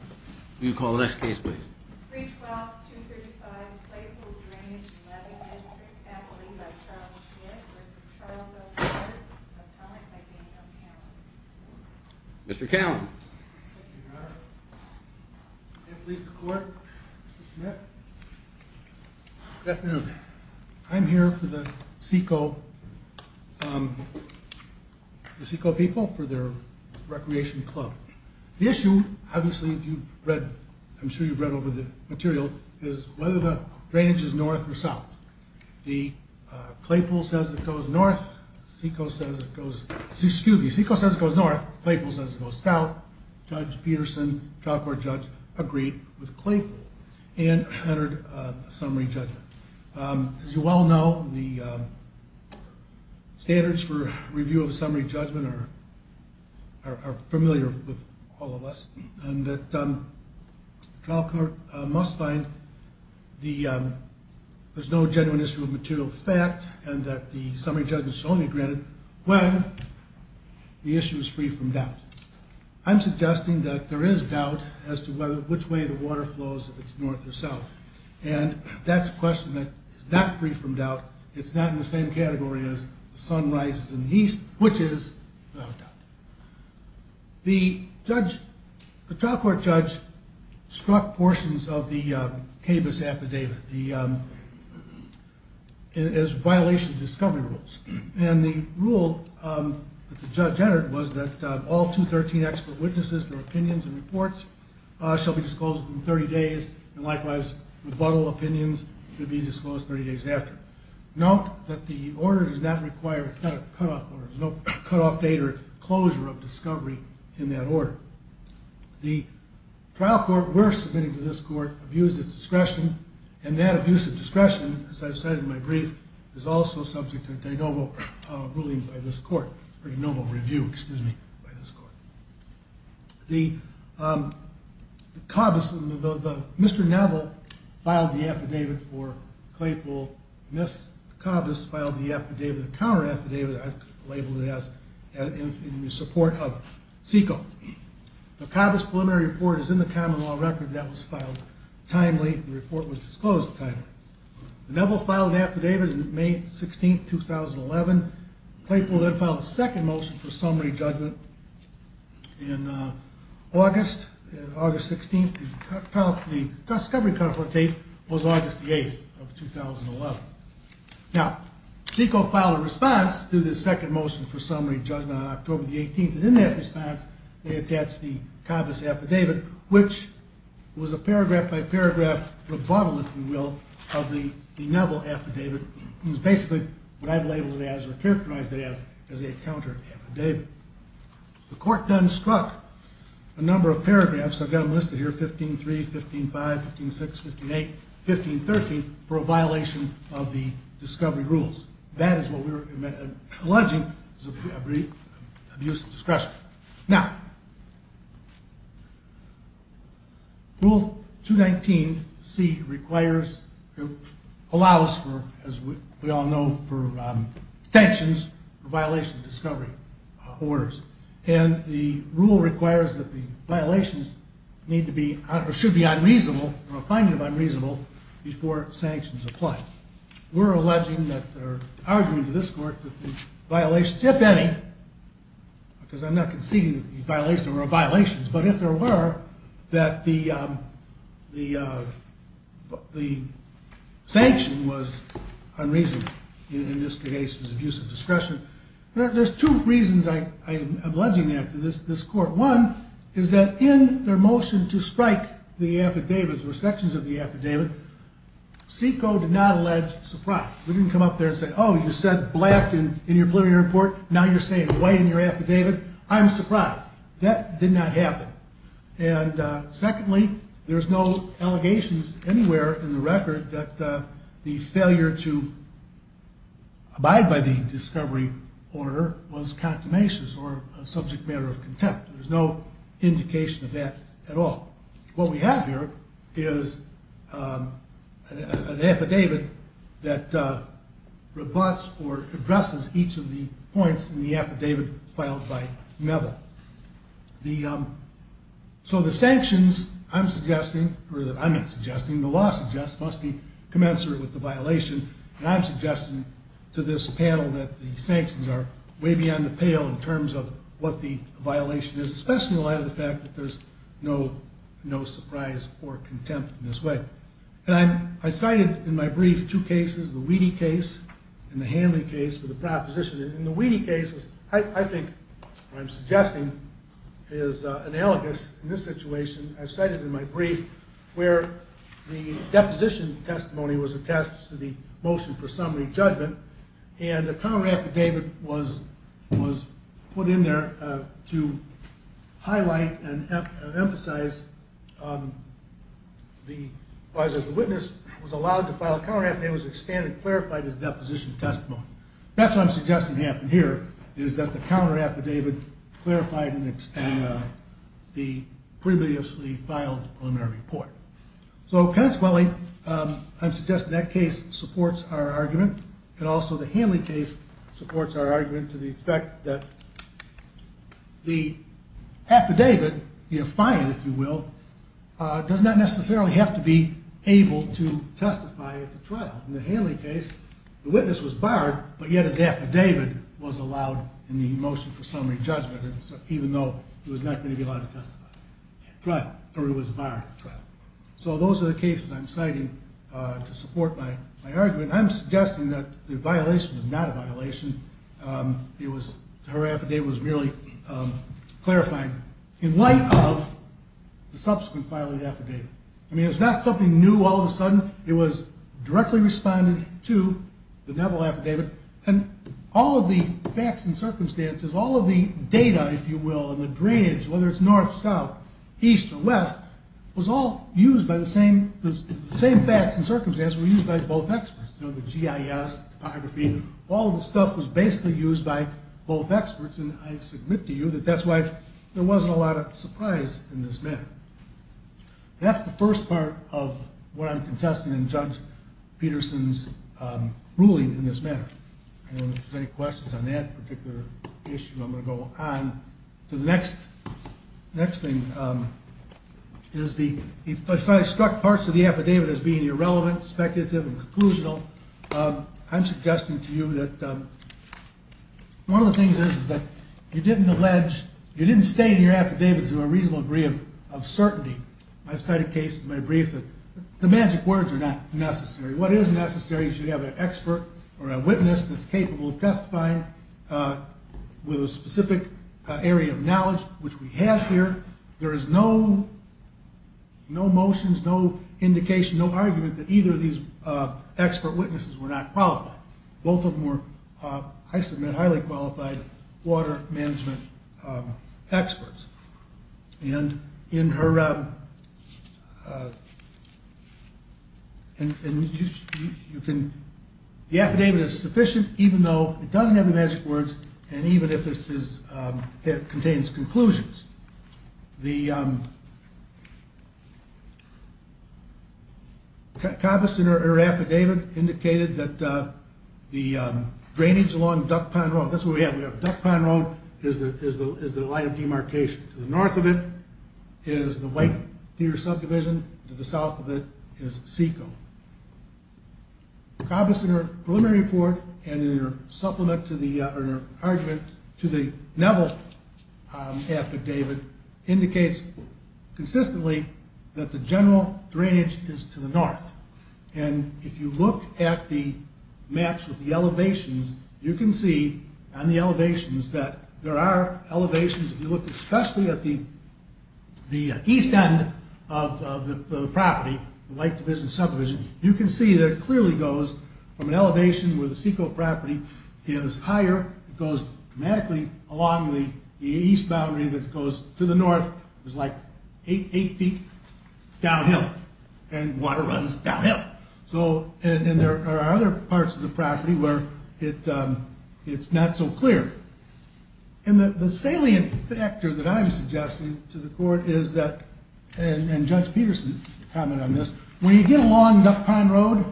Will you call the next case please? 3-12-235 Claypool Drainage and Webbing District Counseling by Charles Schmitt v. Charles O'Leary, Appellant by Daniel Callen. Mr. Callen. Thank you, Your Honor. May it please the Court, Mr. Schmitt. Good afternoon. I'm here for the Seco, um, the Seco people for their recreation club. The issue, obviously if you've read, I'm sure you've read over the material, is whether the drainage is north or south. The Claypool says it goes north, Seco says it goes, excuse me, Seco says it goes north, Claypool says it goes south. Judge Peterson, trial court judge, agreed with Claypool and entered a summary judgment. As you well know, the standards for review of a summary judgment are familiar with all of us. And that the trial court must find there's no genuine issue of material fact and that the summary judgment should only be granted when the issue is free from doubt. I'm suggesting that there is doubt as to which way the water flows, if it's north or south. And that's a question that is not free from doubt. It's not in the same category as the sun rises in the east, which is no doubt. The judge, the trial court judge, struck portions of the, um, cabus affidavit, the, um, as violation of discovery rules. And the rule, um, that the judge entered was that, um, all 213 expert witnesses, their opinions and reports, uh, shall be disclosed in 30 days. And likewise, rebuttal opinions should be disclosed 30 days after. Note that the order does not require, it's not a cutoff order, there's no cutoff date or closure of discovery in that order. The trial court, we're submitting to this court, abused its discretion, and that abuse of discretion, as I've said in my brief, is also subject to de novo ruling by this court, or de novo review, excuse me, by this court. The, um, cabus, Mr. Neville filed the affidavit for Claypool. Ms. Cabus filed the affidavit, the counter affidavit, I've labeled it as, in support of SECO. The cabus preliminary report is in the common law record, that was filed timely, the report was disclosed timely. Neville filed an affidavit in May 16, 2011. Claypool then filed a second motion for summary judgment in August, August 16, the discovery cutoff date was August 8, 2011. Now, SECO filed a response to the second motion for summary judgment on October 18, and in that response, they attached the cabus affidavit, which was a paragraph by paragraph rebuttal, if you will, of the Neville affidavit. It was basically what I've labeled it as, or characterized it as, as a counter affidavit. The court then struck a number of paragraphs, I've got them listed here, 15-3, 15-5, 15-6, 15-8, 15-13, for a violation of the discovery rules. That is what we are alleging is abuse of discretion. Now, Rule 219C requires, allows for, as we all know, for sanctions, violation of discovery orders. And the rule requires that the violations need to be, or should be unreasonable, or a finding of unreasonable, before sanctions apply. Now, we're alleging that, or arguing to this court, that the violations, if any, because I'm not conceding that the violations were violations, but if there were, that the, the, the sanction was unreasonable in this case of abuse of discretion. There's two reasons I'm alleging that to this court. One is that in their motion to strike the affidavits, or sections of the affidavit, SECO did not allege surprise. We didn't come up there and say, oh, you said black in your preliminary report, now you're saying white in your affidavit. I'm surprised. That did not happen. And secondly, there's no allegations anywhere in the record that the failure to abide by the discovery order was condemnations or a subject matter of contempt. There's no indication of that at all. What we have here is an affidavit that rebutts or addresses each of the points in the affidavit filed by Meville. The, so the sanctions I'm suggesting, or that I'm not suggesting, the law suggests, must be commensurate with the violation, and I'm suggesting to this panel that the sanctions are way beyond the pale in terms of what the violation is, especially in light of the fact that there's no, no surprise or contempt in this way. And I'm, I cited in my brief two cases, the Wheatie case and the Hanley case for the proposition. In the Wheatie case, I think what I'm suggesting is analogous in this situation. I've cited in my brief where the deposition testimony was attached to the motion for summary judgment, and a counter affidavit was, was put in there to highlight and emphasize the, as the witness was allowed to file a counter affidavit, it was expanded, clarified as deposition testimony. That's what I'm suggesting happened here, is that the counter affidavit clarified and expanded the previously filed preliminary report. So consequently, I'm suggesting that case supports our argument, and also the Hanley case supports our argument to the effect that the affidavit, the affiant, if you will, does not necessarily have to be able to testify at the trial. In the Hanley case, the witness was barred, but yet his affidavit was allowed in the motion for summary judgment, even though he was not going to be allowed to testify at trial, or he was barred at trial. So those are the cases I'm citing to support my argument. I'm suggesting that the violation was not a violation. It was, her affidavit was merely clarifying in light of the subsequent filed affidavit. I mean, it's not something new all of a sudden. It was directly responded to, the Neville affidavit, and all of the facts and circumstances, all of the data, if you will, and the drainage, whether it's north, south, east, or west, was all used by the same, the same facts and circumstances were used by both experts. You know, the GIS, the topography, all of the stuff was basically used by both experts, and I submit to you that that's why there wasn't a lot of surprise in this matter. That's the first part of what I'm contesting in Judge Peterson's ruling in this matter. And if there's any questions on that particular issue, I'm going to go on to the next thing. If I struck parts of the affidavit as being irrelevant, speculative, and conclusional, I'm suggesting to you that one of the things is that you didn't allege, you didn't state in your affidavit to a reasonable degree of certainty. I've cited cases in my brief that the magic words are not necessary. What is necessary is you have an expert or a witness that's capable of testifying with a specific area of knowledge, which we have here. There is no motions, no indication, no argument that either of these expert witnesses were not qualified. Both of them were, I submit, highly qualified water management experts. The affidavit is sufficient even though it doesn't have the magic words and even if it contains conclusions. The Kabbas and her affidavit indicated that the drainage along Duck Pond Road, that's what we have, we have Duck Pond Road, is the line of demarcation. To the north of it is the White Deer subdivision, to the south of it is Seco. Kabbas in her preliminary report and in her argument to the Neville affidavit indicates consistently that the general drainage is to the north and if you look at the maps of the elevations, you can see on the elevations that there are elevations, if you look especially at the east end of the property, the White Division subdivision, you can see that it clearly goes from an elevation where the Seco property is higher, it goes dramatically along the east boundary that goes to the north, it's like eight feet downhill and water runs downhill. And there are other parts of the property where it's not so clear. And the salient factor that I'm suggesting to the court is that, and Judge Peterson commented on this, when you get along Duck Pond Road,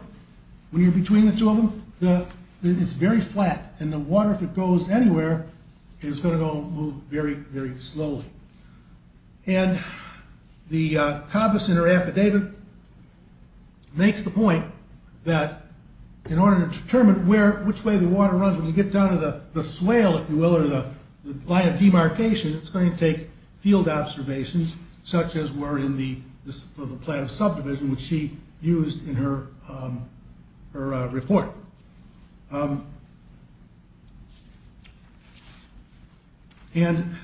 when you're between the two of them, it's very flat and the water, if it goes anywhere, is going to go and move very, very slowly. And the Kabbas and her affidavit makes the point that in order to determine which way the water runs, when you get down to the swale, if you will, or the line of demarcation, it's going to take field observations such as were in the plan of subdivision, which she used in her report. And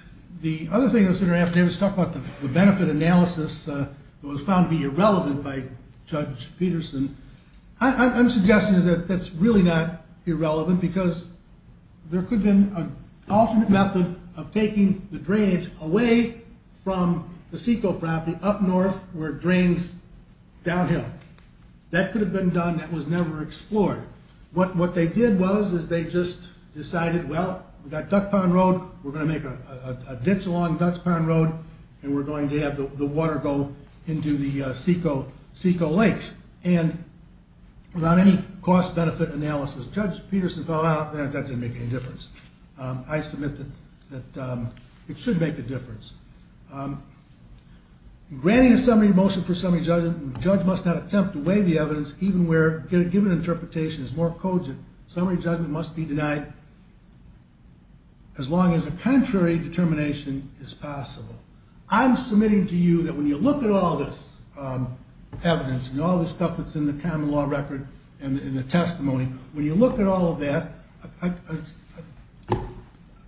the other thing that was in her affidavit was talking about the benefit analysis that was found to be irrelevant by Judge Peterson. I'm suggesting that that's really not irrelevant because there could have been an alternate method of taking the drainage away from the SECO property up north where it drains downhill. That could have been done, that was never explored. What they did was they just decided, well, we've got Duck Pond Road, we're going to make a ditch along Duck Pond Road, and we're going to have the water go into the SECO lakes. And without any cost-benefit analysis, Judge Peterson found out that that didn't make any difference. I submit that it should make a difference. In granting a summary motion for summary judgment, the judge must not attempt to weigh the evidence even where a given interpretation is more cogent. Summary judgment must be denied as long as a contrary determination is possible. I'm submitting to you that when you look at all this evidence and all this stuff that's in the common law record and in the testimony, when you look at all of that,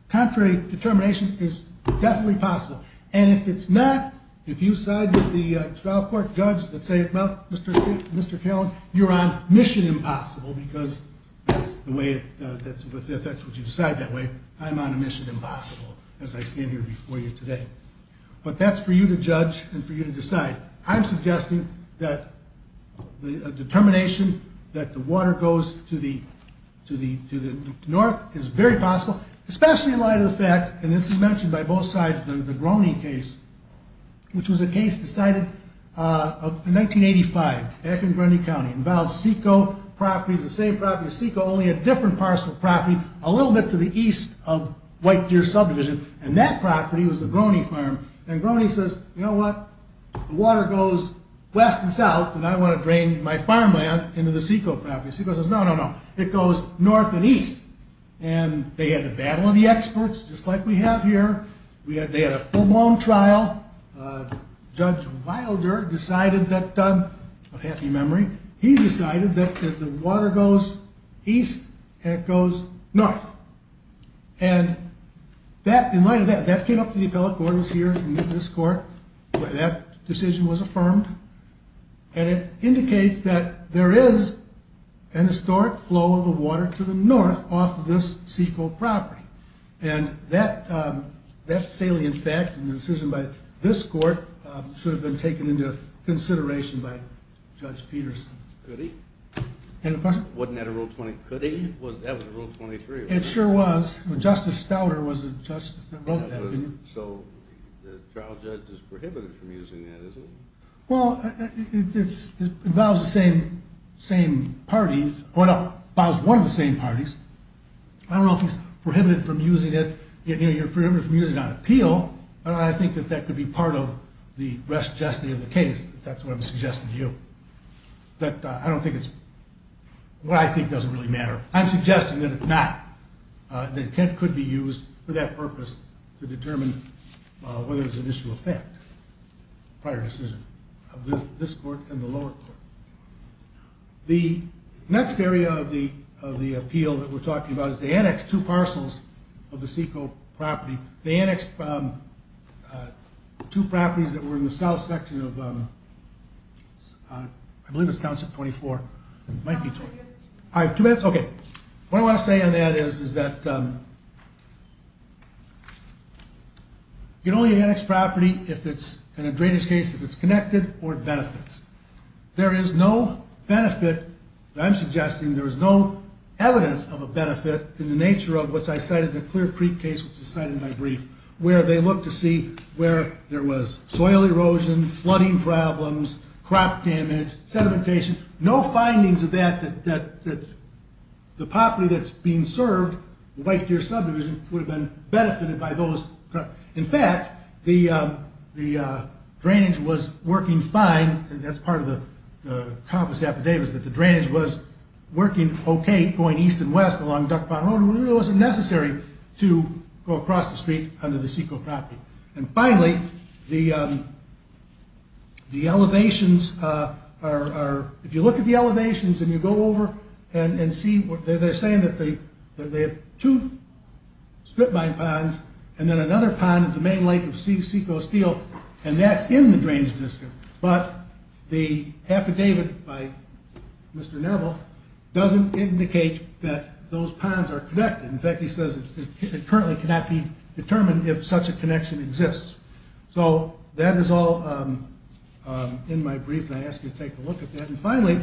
contrary determination is definitely possible. And if it's not, if you side with the trial court judge that says, well, Mr. Callen, you're on a mission impossible because if that's what you decide that way, I'm on a mission impossible as I stand here before you today. But that's for you to judge and for you to decide. I'm suggesting that a determination that the water goes to the north is very possible, especially in light of the fact, and this is mentioned by both sides in the Groney case, which was a case decided in 1985 back in Groney County. It involved Seco properties, the same property as Seco, only a different parcel of property a little bit to the east of White Deer subdivision. And that property was the Groney farm. And Groney says, you know what? The water goes west and south, and I want to drain my farmland into the Seco property. Seco says, no, no, no. It goes north and east. And they had a battle of the experts, just like we have here. They had a full-blown trial. Judge Wilder decided that, a happy memory, he decided that the water goes east and it goes north. And in light of that, that came up to the appellate court. Gordon's here in this court. That decision was affirmed. And it indicates that there is an historic flow of the water to the north off of this Seco property. And that salient fact and the decision by this court should have been taken into consideration by Judge Peterson. Could he? Wasn't that a Rule 20? Could he? That was a Rule 23, wasn't it? It sure was. Justice Stouter was the judge that wrote that. So the trial judge is prohibited from using that, is he? Well, it involves the same parties. Well, it involves one of the same parties. I don't know if he's prohibited from using it. You know, you're prohibited from using it on appeal. And I think that that could be part of the rest justice of the case, if that's what I'm suggesting to you. But I don't think it's what I think doesn't really matter. I'm suggesting that if not, that it could be used for that purpose to determine whether it was an issue of fact, prior decision of this court and the lower court. The next area of the appeal that we're talking about is the annexed two parcels of the SECO property. The annexed two properties that were in the south section of, I believe it's Township 24. I have two minutes? Okay. What I want to say on that is that you can only annex property if it's, in a drainage case, if it's connected or it benefits. There is no benefit. I'm suggesting there is no evidence of a benefit in the nature of which I cited the Clear Creek case, which is cited in my brief, where they look to see where there was soil erosion, flooding problems, crop damage, sedimentation. No findings of that, that the property that's being served, the White Deer subdivision, would have been benefited by those. In fact, the drainage was working fine. That's part of the coppice affidavits, that the drainage was working okay, going east and west along Duck Pond Road. It wasn't necessary to go across the street under the SECO property. Finally, the elevations are, if you look at the elevations and you go over and see, they're saying that they have two strip mine ponds, and then another pond is the main lake of SECO Steel, and that's in the drainage district. But the affidavit by Mr. Neville doesn't indicate that those ponds are connected. In fact, he says it currently cannot be determined if such a connection exists. So that is all in my brief, and I ask you to take a look at that. And finally,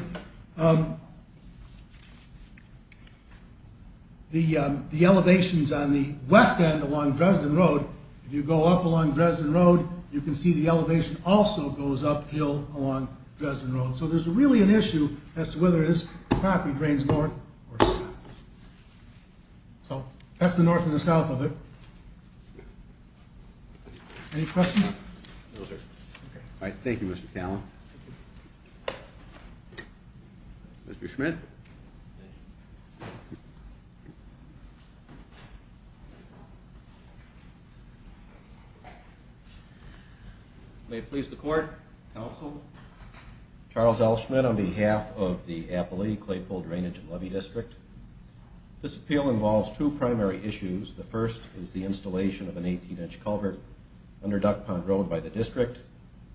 the elevations on the west end along Dresden Road, if you go up along Dresden Road, you can see the elevation also goes uphill along Dresden Road. So there's really an issue as to whether this property drains north or south. So that's the north and the south of it. Any questions? Thank you, Mr. Callan. Mr. Schmidt. Thank you. May it please the court, counsel. Charles L. Schmidt on behalf of the Appalachee Claypool Drainage and Levee District. This appeal involves two primary issues. The first is the installation of an 18-inch culvert under Duck Pond Road by the district.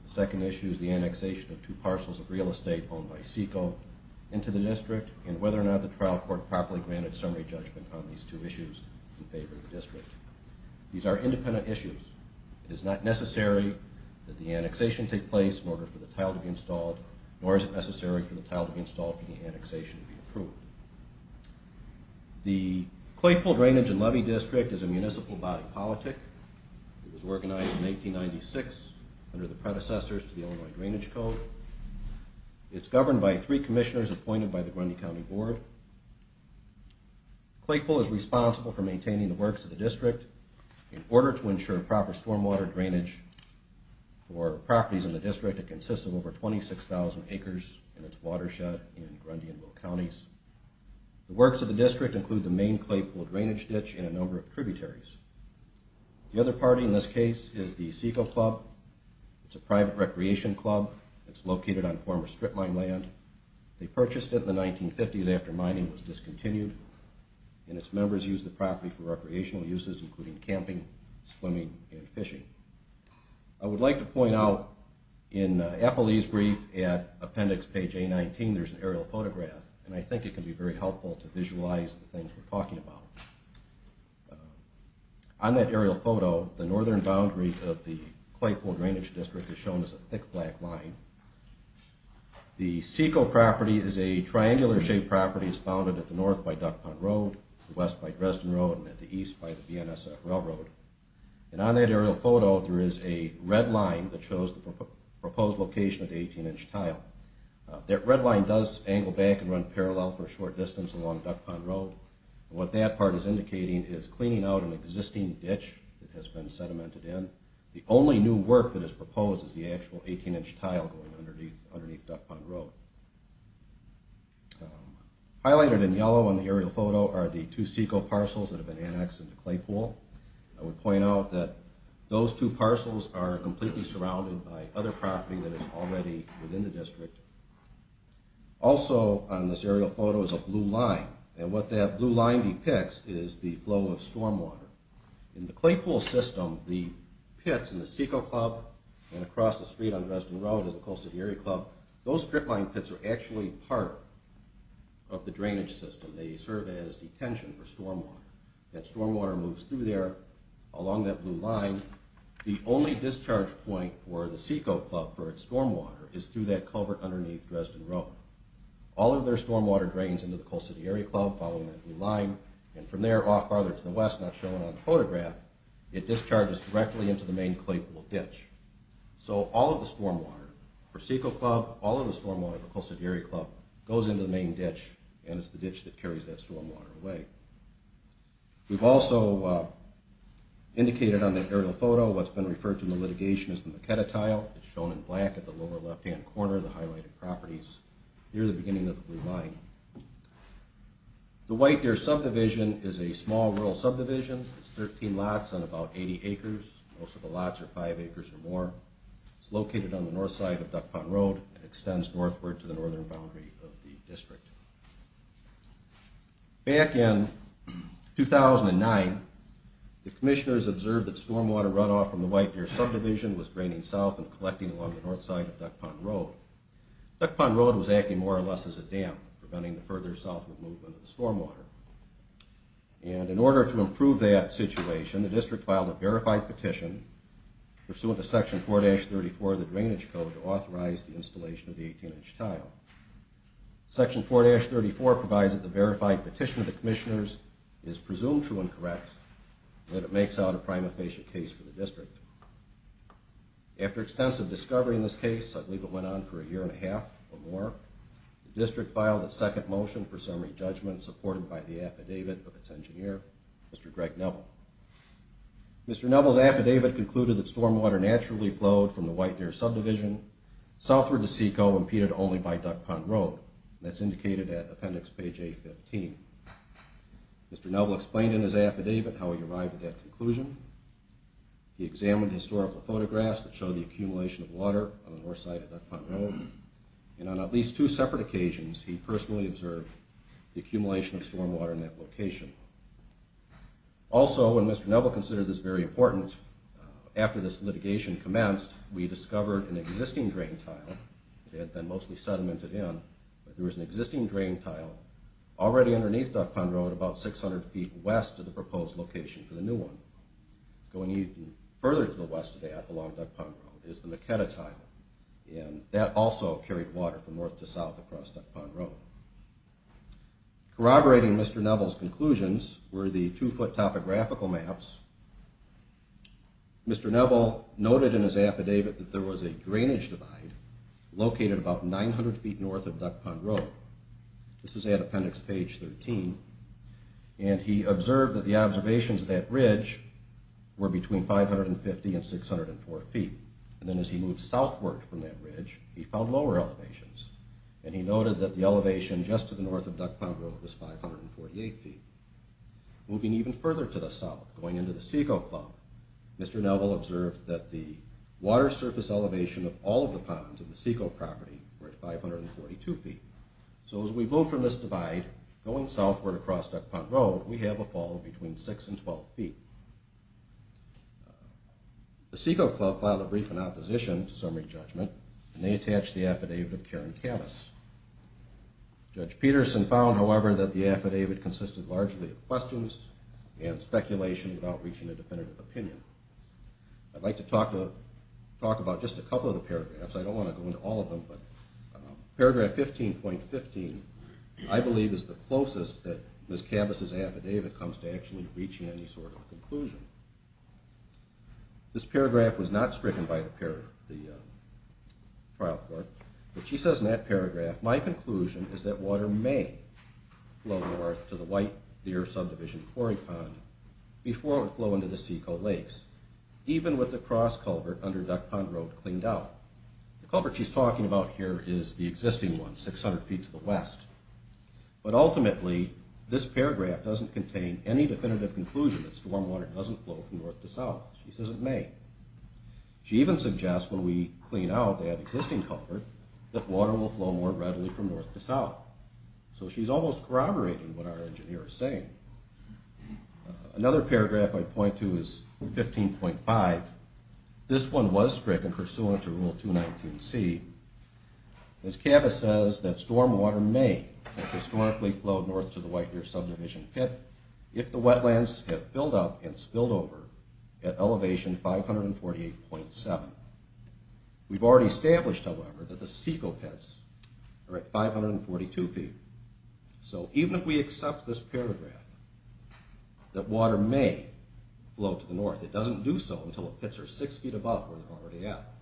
The second issue is the annexation of two parcels of real estate owned by SECO into the district, and whether or not the trial court properly granted summary judgment on these two issues in favor of the district. These are independent issues. It is not necessary that the annexation take place in order for the tile to be installed, nor is it necessary for the tile to be installed for the annexation to be approved. The Claypool Drainage and Levee District is a municipal body politic. It was organized in 1896 under the predecessors to the Illinois Drainage Code. It's governed by three commissioners appointed by the Grundy County Board. Claypool is responsible for maintaining the works of the district. In order to ensure proper stormwater drainage for properties in the district, it consists of over 26,000 acres, and it's watershed in Grundy and Will Counties. The works of the district include the main Claypool drainage ditch and a number of tributaries. The other party in this case is the SECO Club. It's a private recreation club. It's located on former strip mine land. They purchased it in the 1950s after mining was discontinued, and its members used the property for recreational uses including camping, swimming, and fishing. I would like to point out in Eppley's brief at appendix page A-19, there's an aerial photograph, and I think it can be very helpful to visualize the things we're talking about. On that aerial photo, the northern boundary of the Claypool Drainage District is shown as a thick black line. The SECO property is a triangular-shaped property. It's founded at the north by Duck Pond Road, west by Dresden Road, and at the east by the BNSF Railroad. And on that aerial photo, there is a red line that shows the proposed location of the 18-inch tile. That red line does angle back and run parallel for a short distance along Duck Pond Road. What that part is indicating is cleaning out an existing ditch that has been sedimented in. The only new work that is proposed is the actual 18-inch tile going underneath Duck Pond Road. Highlighted in yellow on the aerial photo are the two SECO parcels that have been annexed into Claypool. I would point out that those two parcels are completely surrounded by other property that is already within the district. Also on this aerial photo is a blue line, and what that blue line depicts is the flow of stormwater. In the Claypool system, the pits in the SECO Club and across the street on Dresden Road in the Coastal Area Club, those strip line pits are actually part of the drainage system. They serve as detention for stormwater. That stormwater moves through there along that blue line. The only discharge point for the SECO Club for its stormwater is through that culvert underneath Dresden Road. All of their stormwater drains into the Coastal Area Club following that blue line, and from there off farther to the west, not shown on the photograph, it discharges directly into the main Claypool ditch. So all of the stormwater for SECO Club, all of the stormwater for Coastal Area Club goes into the main ditch, and it's the ditch that carries that stormwater away. We've also indicated on the aerial photo what's been referred to in the litigation as the Maquetta Tile. It's shown in black at the lower left-hand corner, the highlighted properties near the beginning of the blue line. The White Deer subdivision is a small rural subdivision. It's 13 lots on about 80 acres. Most of the lots are 5 acres or more. It's located on the north side of Duck Pond Road and extends northward to the northern boundary of the district. Back in 2009, the commissioners observed that stormwater runoff from the White Deer subdivision was draining south and collecting along the north side of Duck Pond Road. Duck Pond Road was acting more or less as a dam, preventing the further southward movement of the stormwater. And in order to improve that situation, the district filed a verified petition, pursuant to Section 4-34 of the Drainage Code, to authorize the installation of the 18-inch tile. Section 4-34 provides that the verified petition of the commissioners is presumed true and correct, and that it makes out a prima facie case for the district. After extensive discovery in this case, I believe it went on for a year and a half or more, the district filed a second motion for summary judgment, supported by the affidavit of its engineer, Mr. Greg Neville. Mr. Neville's affidavit concluded that stormwater naturally flowed from the White Deer subdivision southward to Seacoa, impeded only by Duck Pond Road. That's indicated at appendix page 815. Mr. Neville explained in his affidavit how he arrived at that conclusion. He examined historical photographs that show the accumulation of water on the north side of Duck Pond Road. And on at least two separate occasions, he personally observed the accumulation of stormwater in that location. Also, when Mr. Neville considered this very important, after this litigation commenced, we discovered an existing drain tile that had been mostly sedimented in, but there was an existing drain tile already underneath Duck Pond Road, about 600 feet west of the proposed location for the new one. Going even further to the west of that, along Duck Pond Road, is the Maquetta Tile. And that also carried water from north to south across Duck Pond Road. Corroborating Mr. Neville's conclusions were the two-foot topographical maps. Mr. Neville noted in his affidavit that there was a drainage divide located about 900 feet north of Duck Pond Road. This is at appendix page 13. And he observed that the observations of that ridge were between 550 and 604 feet. And then as he moved southward from that ridge, he found lower elevations. And he noted that the elevation just to the north of Duck Pond Road was 548 feet. Moving even further to the south, going into the Seco Club, Mr. Neville observed that the water surface elevation of all of the ponds in the Seco property were at 542 feet. So as we move from this divide, going southward across Duck Pond Road, we have a fall of between 6 and 12 feet. The Seco Club filed a brief in opposition to summary judgment, and they attached the affidavit of Karen Cabas. Judge Peterson found, however, that the affidavit consisted largely of questions and speculation without reaching a definitive opinion. I'd like to talk about just a couple of the paragraphs. I don't want to go into all of them, but paragraph 15.15, I believe, is the closest that Ms. Cabas' affidavit comes to actually reaching any sort of conclusion. This paragraph was not stricken by the trial court, but she says in that paragraph, my conclusion is that water may flow north to the White Deer Subdivision Quarry Pond before it would flow into the Seco Lakes, even with the cross culvert under Duck Pond Road cleaned out. The culvert she's talking about here is the existing one, 600 feet to the west. But ultimately, this paragraph doesn't contain any definitive conclusion that stormwater doesn't flow from north to south. She says it may. She even suggests when we clean out that existing culvert, that water will flow more readily from north to south. So she's almost corroborating what our engineer is saying. Another paragraph I'd point to is 15.5. This one was stricken pursuant to Rule 219C. Ms. Cabas says that stormwater may have historically flowed north to the White Deer Subdivision Pit if the wetlands had filled up and spilled over at elevation 548.7. We've already established, however, that the Seco Pits are at 542 feet. So even if we accept this paragraph, that water may flow to the north, it doesn't do so until the pits are six feet above where they're already at.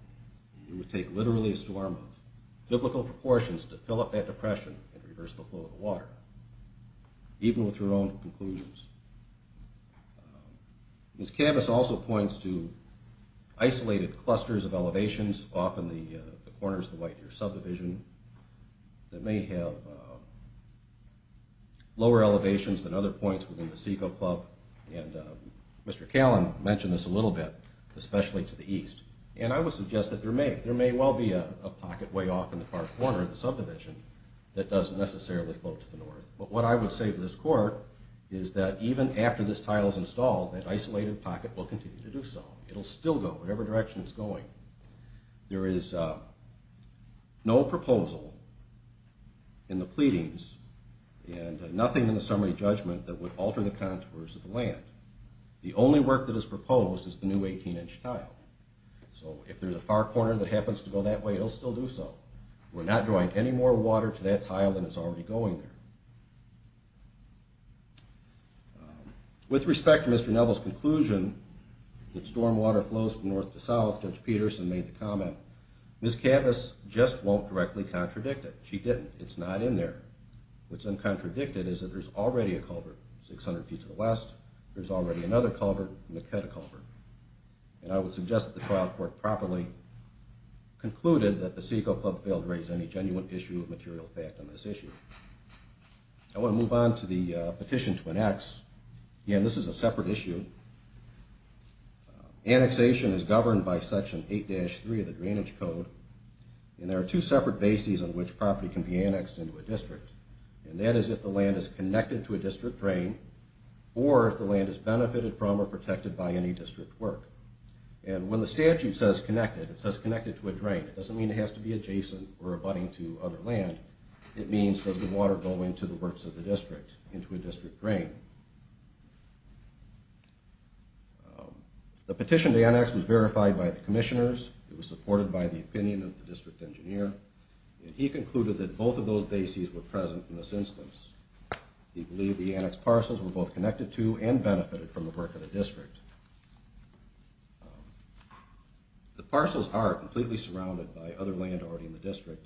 It would take literally a storm of biblical proportions to fill up that depression and reverse the flow of the water, even with her own conclusions. Ms. Cabas also points to isolated clusters of elevations off in the corners of the White Deer Subdivision that may have lower elevations than other points within the Seco Club. And Mr. Callum mentioned this a little bit, especially to the east. And I would suggest that there may well be a pocket way off in the far corner of the subdivision that doesn't necessarily flow to the north. But what I would say to this Court is that even after this tile is installed, that isolated pocket will continue to do so. It'll still go whatever direction it's going. There is no proposal in the pleadings and nothing in the summary judgment that would alter the contours of the land. The only work that is proposed is the new 18-inch tile. So if there's a far corner that happens to go that way, it'll still do so. We're not drawing any more water to that tile than is already going there. With respect to Mr. Neville's conclusion that stormwater flows from north to south, Judge Peterson made the comment, Ms. Cabas just won't directly contradict it. She didn't. It's not in there. What's uncontradicted is that there's already a culvert 600 feet to the west. There's already another culvert and a cut culvert. And I would suggest that the trial court properly concluded that the Seco Club failed to raise any genuine issue of material fact on this issue. I want to move on to the petition to annex. Again, this is a separate issue. Annexation is governed by Section 8-3 of the Drainage Code. And there are two separate bases on which property can be annexed into a district. And that is if the land is connected to a district drain or if the land is benefited from or protected by any district work. And when the statute says connected, it says connected to a drain. It doesn't mean it has to be adjacent or abutting to other land. It means does the water go into the works of the district, into a district drain? The petition to annex was verified by the commissioners. It was supported by the opinion of the district engineer. And he concluded that both of those bases were present in this instance. He believed the annexed parcels were both connected to and benefited from the work of the district. The parcels are completely surrounded by other land already in the district.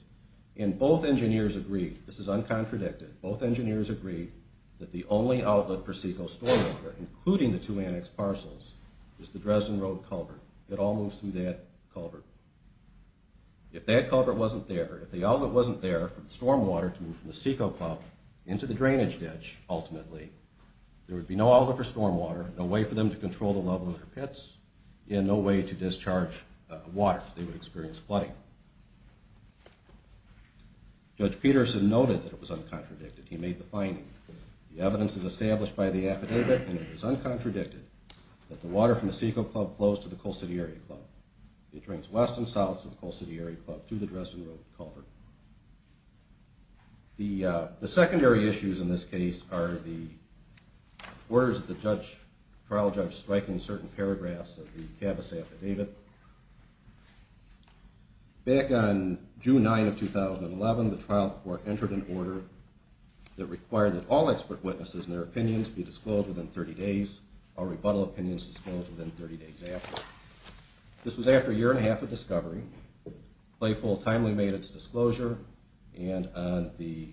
And both engineers agreed, this is uncontradicted, both engineers agreed that the only outlet for Seco's stormwater, including the two annexed parcels, is the Dresden Road culvert. It all moves through that culvert. If that culvert wasn't there, if the outlet wasn't there for the stormwater to move from the Seco Club into the drainage ditch, ultimately, there would be no outlet for stormwater, no way for them to control the level of their pits, and no way to discharge water, they would experience flooding. Judge Peterson noted that it was uncontradicted. He made the finding, the evidence is established by the affidavit, and it is uncontradicted, that the water from the Seco Club flows to the Colcidieri Club. It drains west and south to the Colcidieri Club through the Dresden Road culvert. The secondary issues in this case are the orders of the trial judge striking certain paragraphs of the CABIS affidavit. Back on June 9, 2011, the trial court entered an order that required that all expert witnesses and their opinions be disclosed within 30 days, all rebuttal opinions disclosed within 30 days after. This was after a year and a half of discovery. Claypool timely made its disclosure, and on the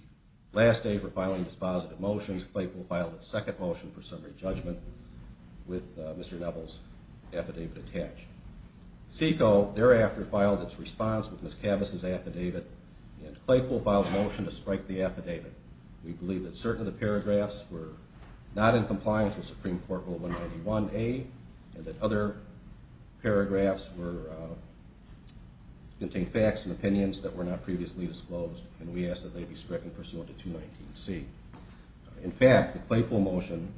last day for filing dispositive motions, Claypool filed its second motion for summary judgment with Mr. Neville's affidavit attached. Seco thereafter filed its response with Ms. CABIS' affidavit, and Claypool filed a motion to strike the affidavit. We believe that certain of the paragraphs were not in compliance with Supreme Court Rule 191A, and that other paragraphs contained facts and opinions that were not previously disclosed, and we ask that they be stricken pursuant to 219C. In fact, the Claypool motion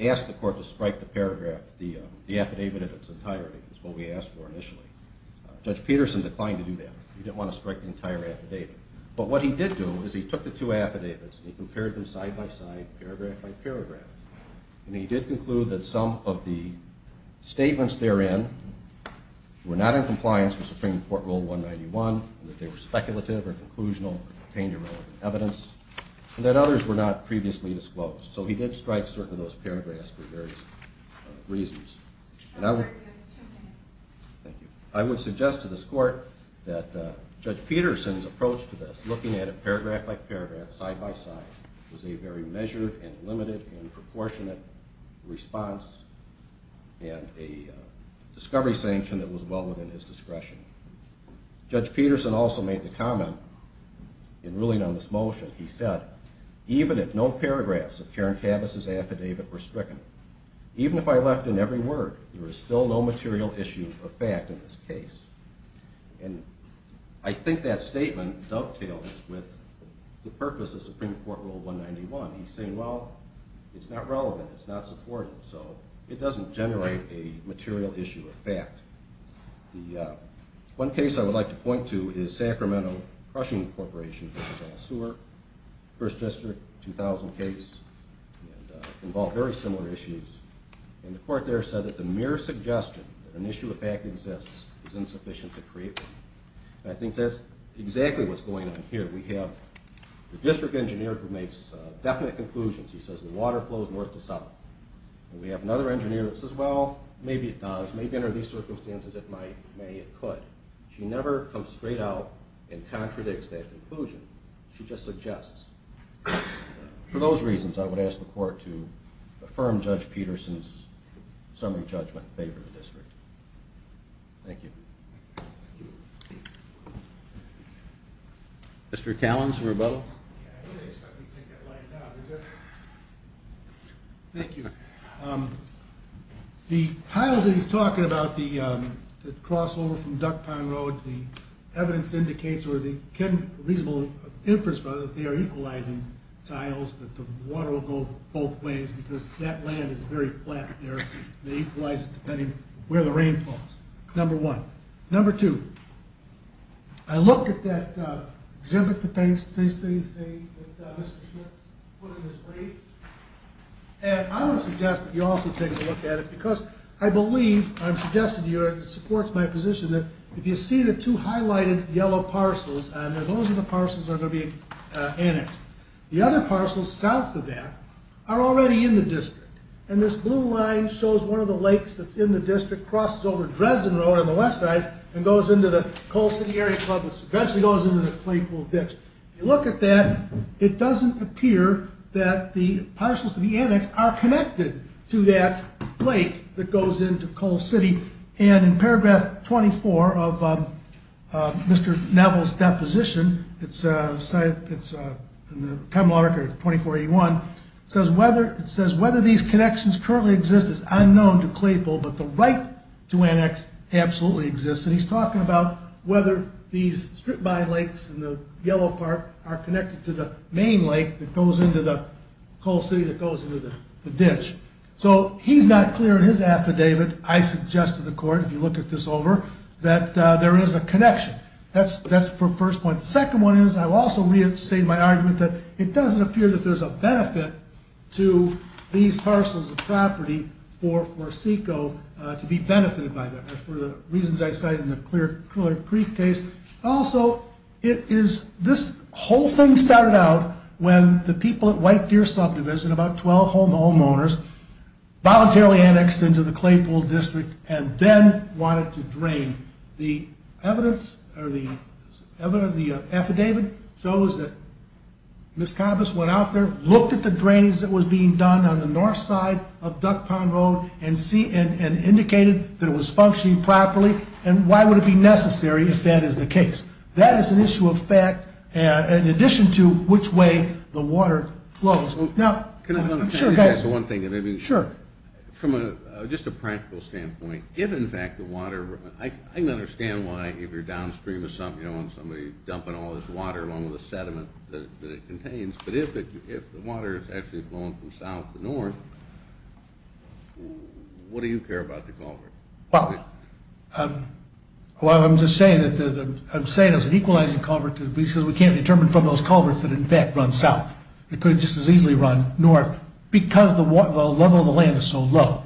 asked the court to strike the paragraph, the affidavit in its entirety, is what we asked for initially. Judge Peterson declined to do that. He didn't want to strike the entire affidavit. But what he did do is he took the two affidavits and he compared them side-by-side, paragraph-by-paragraph, and he did conclude that some of the statements therein were not in compliance with Supreme Court Rule 191, that they were speculative or conclusional or contained irrelevant evidence, and that others were not previously disclosed. So he did strike certain of those paragraphs for various reasons. I would suggest to this court that Judge Peterson's approach to this, looking at it paragraph-by-paragraph, side-by-side, was a very measured and limited and proportionate response and a discovery sanction that was well within his discretion. Judge Peterson also made the comment in ruling on this motion. He said, even if no paragraphs of Karen Kavis' affidavit were stricken, even if I left in every word, there is still no material issue of fact in this case. And I think that statement dovetails with the purpose of Supreme Court Rule 191. He's saying, well, it's not relevant. It's not supported. So it doesn't generate a material issue of fact. One case I would like to point to is Sacramento Crushing Corporation, First District, 2000 case, involved very similar issues. And the court there said that the mere suggestion that an issue of fact exists is insufficient to create one. And I think that's exactly what's going on here. We have the district engineer who makes definite conclusions. He says the water flows north to south. And we have another engineer that says, well, maybe it does. Maybe under these circumstances it might, may, it could. She never comes straight out and contradicts that conclusion. She just suggests. For those reasons, I would ask the court to affirm Judge Peterson's summary judgment in favor of the district. Thank you. Mr. Callins, rebuttal. Thank you. The tiles that he's talking about, the crossover from Duck Pond Road, the evidence indicates or the reasonable inference that they are equalizing tiles, that the water will go both ways because that land is very flat there. They equalize it depending where the rain falls, number one. Number two, I look at that exhibit that they say Mr. Schmitz put in his brief. And I would suggest that you also take a look at it because I believe, I'm suggesting to you, it supports my position that if you see the two highlighted yellow parcels on there, those are the parcels that are going to be annexed. The other parcels south of that are already in the district. And this blue line shows one of the lakes that's in the district, crosses over Dresden Road on the west side and goes into the Cole City Area Club, which eventually goes into the Claypool Ditch. If you look at that, it doesn't appear that the parcels to be annexed are connected to that lake that goes into Cole City. And in paragraph 24 of Mr. Neville's deposition, it's in the common law record 2481, it says whether these connections currently exist is unknown to Claypool, but the right to annex absolutely exists. And he's talking about whether these strip-by lakes in the yellow part are connected to the main lake that goes into the Cole City, that goes into the ditch. So he's not clear in his affidavit, I suggest to the court, if you look at this over, that there is a connection. That's the first point. The second one is I will also reinstate my argument that it doesn't appear that there's a benefit to these parcels of property for SECO to be benefited by them. For the reasons I cited in the Clear Creek case. Also, it is, this whole thing started out when the people at White Deer Subdivision, about 12 homeowners, voluntarily annexed into the Claypool District and then wanted to drain. The evidence, or the evidence of the affidavit shows that Ms. Kampus went out there, looked at the drainings that was being done on the north side of Duck Pond Road, and indicated that it was functioning properly. And why would it be necessary if that is the case? That is an issue of fact, in addition to which way the water flows. Now, I'm sure there's one thing. Sure. From just a practical standpoint, if in fact the water, I can understand why if you're downstream of something, you don't want somebody dumping all this water along with the sediment that it contains. But if the water is actually flowing from south to north, what do you care about the culvert? Well, I'm just saying that I'm saying it's an equalizing culvert because we can't determine from those culverts that in fact run south. It could just as easily run north because the level of the land is so low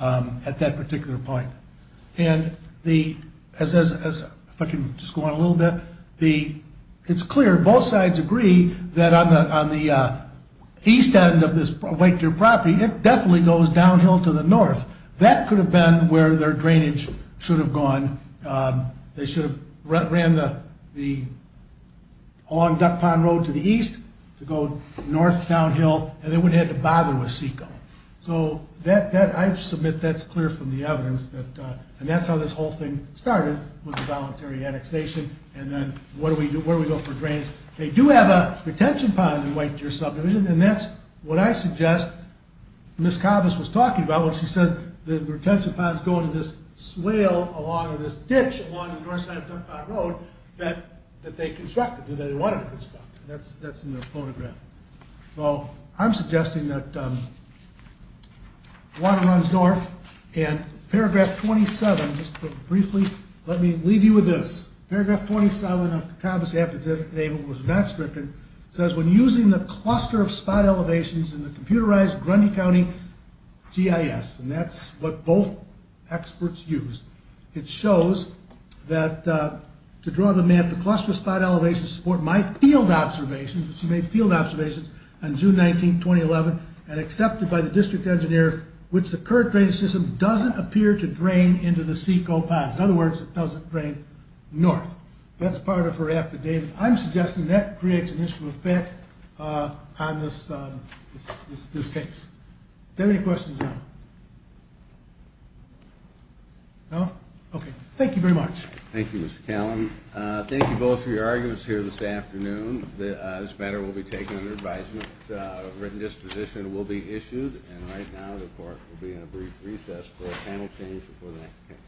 at that particular point. And the, if I can just go on a little bit, it's clear both sides agree that on the east end of this White Deer property, it definitely goes downhill to the north. That could have been where their drainage should have gone. They should have ran along Duck Pond Road to the east to go north, downhill, and they wouldn't have had to bother with SECO. So I submit that's clear from the evidence. And that's how this whole thing started with the voluntary annexation. And then where do we go for drains? They do have a retention pond in White Deer subdivision, and that's what I suggest Miss Cobbess was talking about when she said the retention pond is going to just swale along this ditch along the north side of Duck Pond Road that they constructed, that they wanted to construct. That's in the photograph. So I'm suggesting that water runs north. And paragraph 27, just briefly, let me leave you with this. Paragraph 27 of Cobbess' affidavit was not stricken. It says, when using the cluster of spot elevations in the computerized Grundy County GIS, and that's what both experts used, it shows that to draw the map, the cluster of spot elevations support my field observations. She made field observations on June 19, 2011, and accepted by the district engineer which the current drainage system doesn't appear to drain into the SECO ponds. In other words, it doesn't drain north. That's part of her affidavit. I'm suggesting that creates an initial effect on this case. Do I have any questions now? No? Okay. Thank you very much. Thank you, Mr. Callan. Thank you both for your arguments here this afternoon. This matter will be taken under advisement, written disposition will be issued, and right now the court will be in a brief recess for a panel change before the next case.